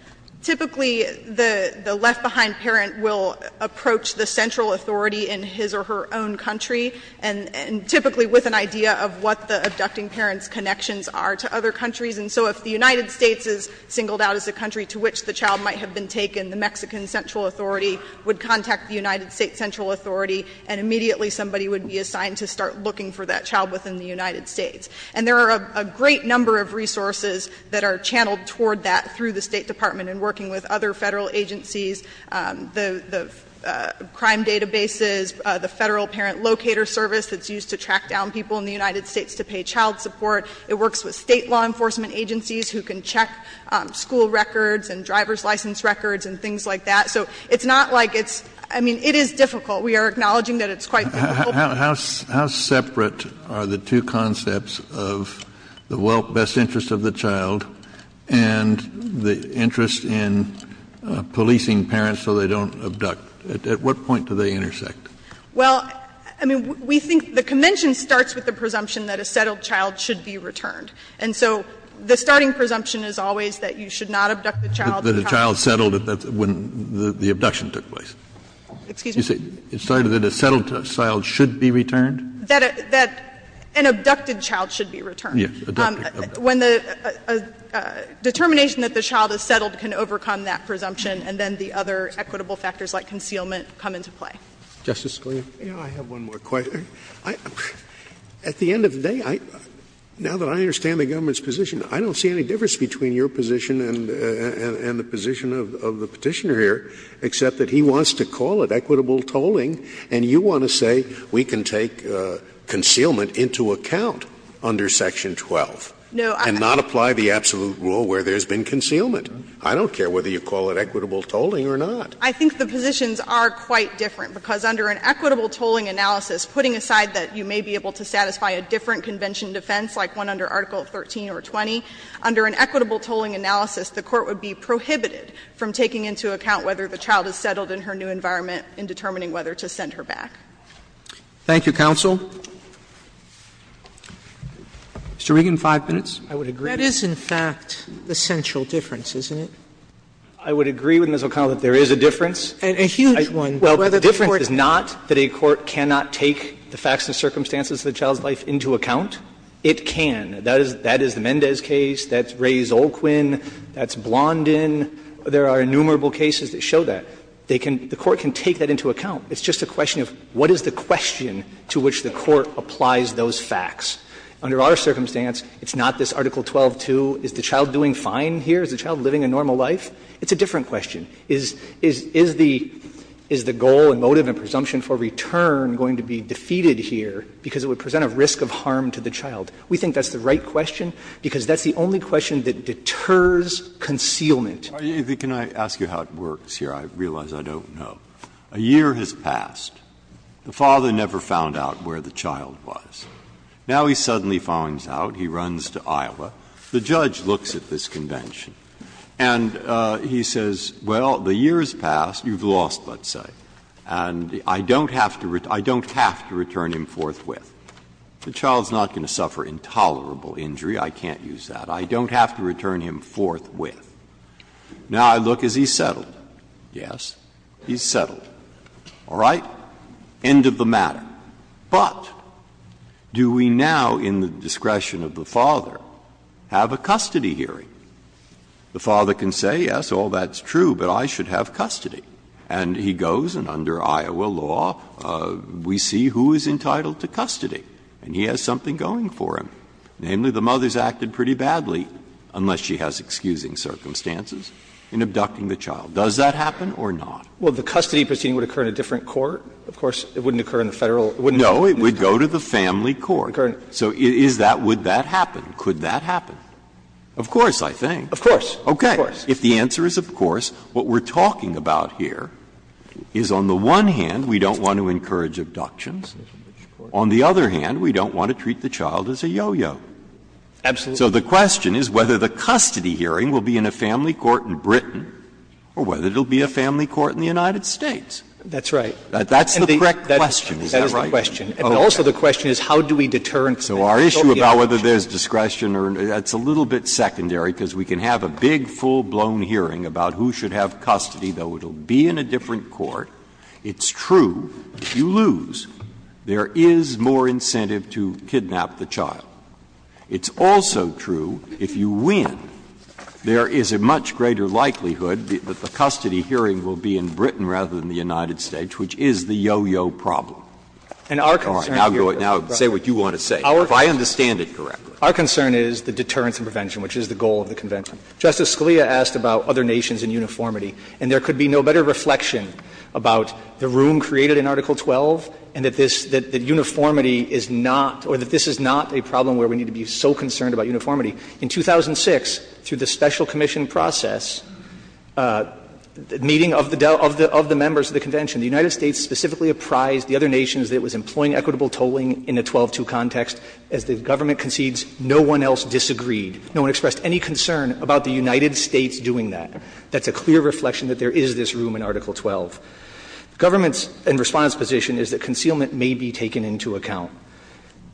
Typically, the left-behind parent will approach the central authority in his or her own country, and typically with an idea of what the abducting parent's connections are to other countries. And so if the United States is singled out as a country to which the child might have been taken, the Mexican central authority would contact the United States central authority, and immediately somebody would be assigned to start looking for that child within the United States. And there are a great number of resources that are channeled toward that through the State Department in working with other Federal agencies, the crime databases, the Federal Parent Locator Service that's used to track down people in the United States to pay child support. It works with State law enforcement agencies who can check school records and driver's license records and things like that. So it's not like it's — I mean, it is difficult. We are acknowledging that it's quite difficult. Kennedy, how separate are the two concepts of the best interest of the child and the interest in policing parents so they don't abduct? At what point do they intersect? Well, I mean, we think the convention starts with the presumption that a settled child should be returned. And so the starting presumption is always that you should not abduct the child. That a child settled when the abduction took place. Excuse me? It started that a settled child should be returned? That an abducted child should be returned. Yes. Abducted. When the determination that the child is settled can overcome that presumption, and then the other equitable factors like concealment come into play. Justice Scalia. I have one more question. At the end of the day, now that I understand the government's position, I don't see any difference between your position and the position of the Petitioner here, except that he wants to call it equitable tolling, and you want to say we can take concealment into account under Section 12 and not apply the absolute rule where there has been concealment. I don't care whether you call it equitable tolling or not. I think the positions are quite different, because under an equitable tolling analysis, putting aside that you may be able to satisfy a different convention in defense, like one under Article 13 or 20, under an equitable tolling analysis, the Court would be prohibited from taking into account whether the child is settled in her new environment in determining whether to send her back. Thank you, counsel. Mr. Regan, 5 minutes. I would agree. That is, in fact, the central difference, isn't it? I would agree with Ms. O'Connell that there is a difference. And a huge one. Well, the difference is not that a court cannot take the facts and circumstances of the child's life into account. It can. That is the Mendez case. That's Rae Zolkwin. That's Blondin. There are innumerable cases that show that. They can – the Court can take that into account. It's just a question of what is the question to which the Court applies those facts. Under our circumstance, it's not this Article 12-2, is the child doing fine here? Is the child living a normal life? It's a different question. Is the goal and motive and presumption for return going to be defeated here because it would present a risk of harm to the child? We think that's the right question, because that's the only question that deters concealment. Breyer, can I ask you how it works here? I realize I don't know. A year has passed. The father never found out where the child was. Now he suddenly finds out, he runs to Iowa. The judge looks at this convention and he says, well, the year has passed, you've lost, let's say. And I don't have to return him forthwith. The child is not going to suffer intolerable injury. I can't use that. I don't have to return him forthwith. Now I look as he's settled. Yes, he's settled. All right? End of the matter. But do we now, in the discretion of the father, have a custody hearing? The father can say, yes, all that's true, but I should have custody. And he goes, and under Iowa law, we see who is entitled to custody. And he has something going for him. Namely, the mother has acted pretty badly, unless she has excusing circumstances, in abducting the child. Does that happen or not? Well, the custody proceeding would occur in a different court. Of course, it wouldn't occur in the Federal. No, it would go to the family court. So is that, would that happen? Could that happen? Of course, I think. Of course. Of course. If the answer is of course, what we're talking about here is, on the one hand, we don't want to encourage abductions. On the other hand, we don't want to treat the child as a yo-yo. Absolutely. So the question is whether the custody hearing will be in a family court in Britain or whether it will be a family court in the United States. That's right. That's the correct question. Is that right? That is the question. But also the question is how do we deter him from that? So our issue about whether there's discretion or not, that's a little bit secondary because we can have a big, full-blown hearing about who should have custody, though it will be in a different court. It's true, if you lose, there is more incentive to kidnap the child. It's also true, if you win, there is a much greater likelihood that the custody hearing will be in Britain rather than the United States, which is the yo-yo problem. Now say what you want to say, if I understand it correctly. Our concern is the deterrence and prevention, which is the goal of the Convention. Justice Scalia asked about other nations and uniformity, and there could be no better reflection about the room created in Article 12 and that this, that uniformity is not, or that this is not a problem where we need to be so concerned about uniformity. In 2006, through the special commission process, meeting of the members of the Convention, the United States specifically apprised the other nations that it was employing equitable tolling in a 12-2 context. As the government concedes, no one else disagreed. No one expressed any concern about the United States doing that. That's a clear reflection that there is this room in Article 12. Government's and Respondent's position is that concealment may be taken into account.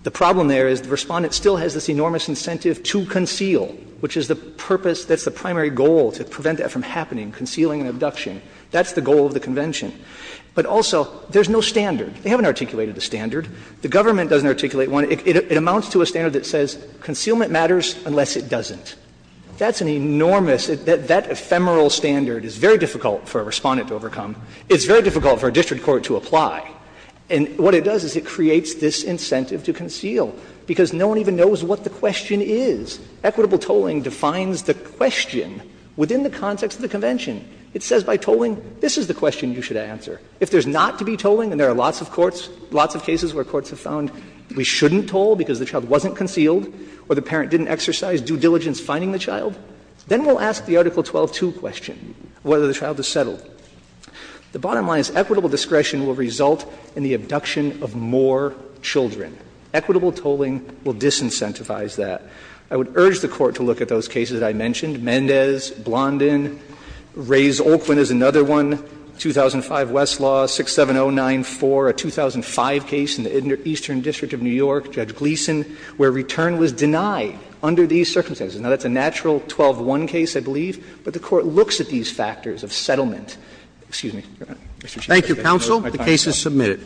The problem there is the Respondent still has this enormous incentive to conceal, which is the purpose, that's the primary goal, to prevent that from happening, concealing and abduction. That's the goal of the Convention. But also, there's no standard. They haven't articulated a standard. The government doesn't articulate one. It amounts to a standard that says concealment matters unless it doesn't. That's an enormous, that ephemeral standard is very difficult for a Respondent to overcome. It's very difficult for a district court to apply. And what it does is it creates this incentive to conceal, because no one even knows what the question is. Equitable tolling defines the question within the context of the Convention. It says by tolling, this is the question you should answer. If there's not to be tolling, and there are lots of courts, lots of cases where courts have found we shouldn't toll because the child wasn't concealed or the parent didn't exercise due diligence finding the child, then we'll ask the Article 12-2 question, whether the child is settled. The bottom line is equitable discretion will result in the abduction of more children. Equitable tolling will disincentivize that. I would urge the Court to look at those cases I mentioned, Mendez, Blondin, Reyes-Olkwin is another one, 2005 Westlaw, 67094, a 2005 case in the Eastern District of New York, Judge Gleeson, where return was denied under these circumstances. Now, that's a natural 12-1 case, I believe, but the Court looks at these factors of settlement. Excuse me, Your Honor. Mr. Chief Justice. Roberts. Thank you, counsel. The case is submitted.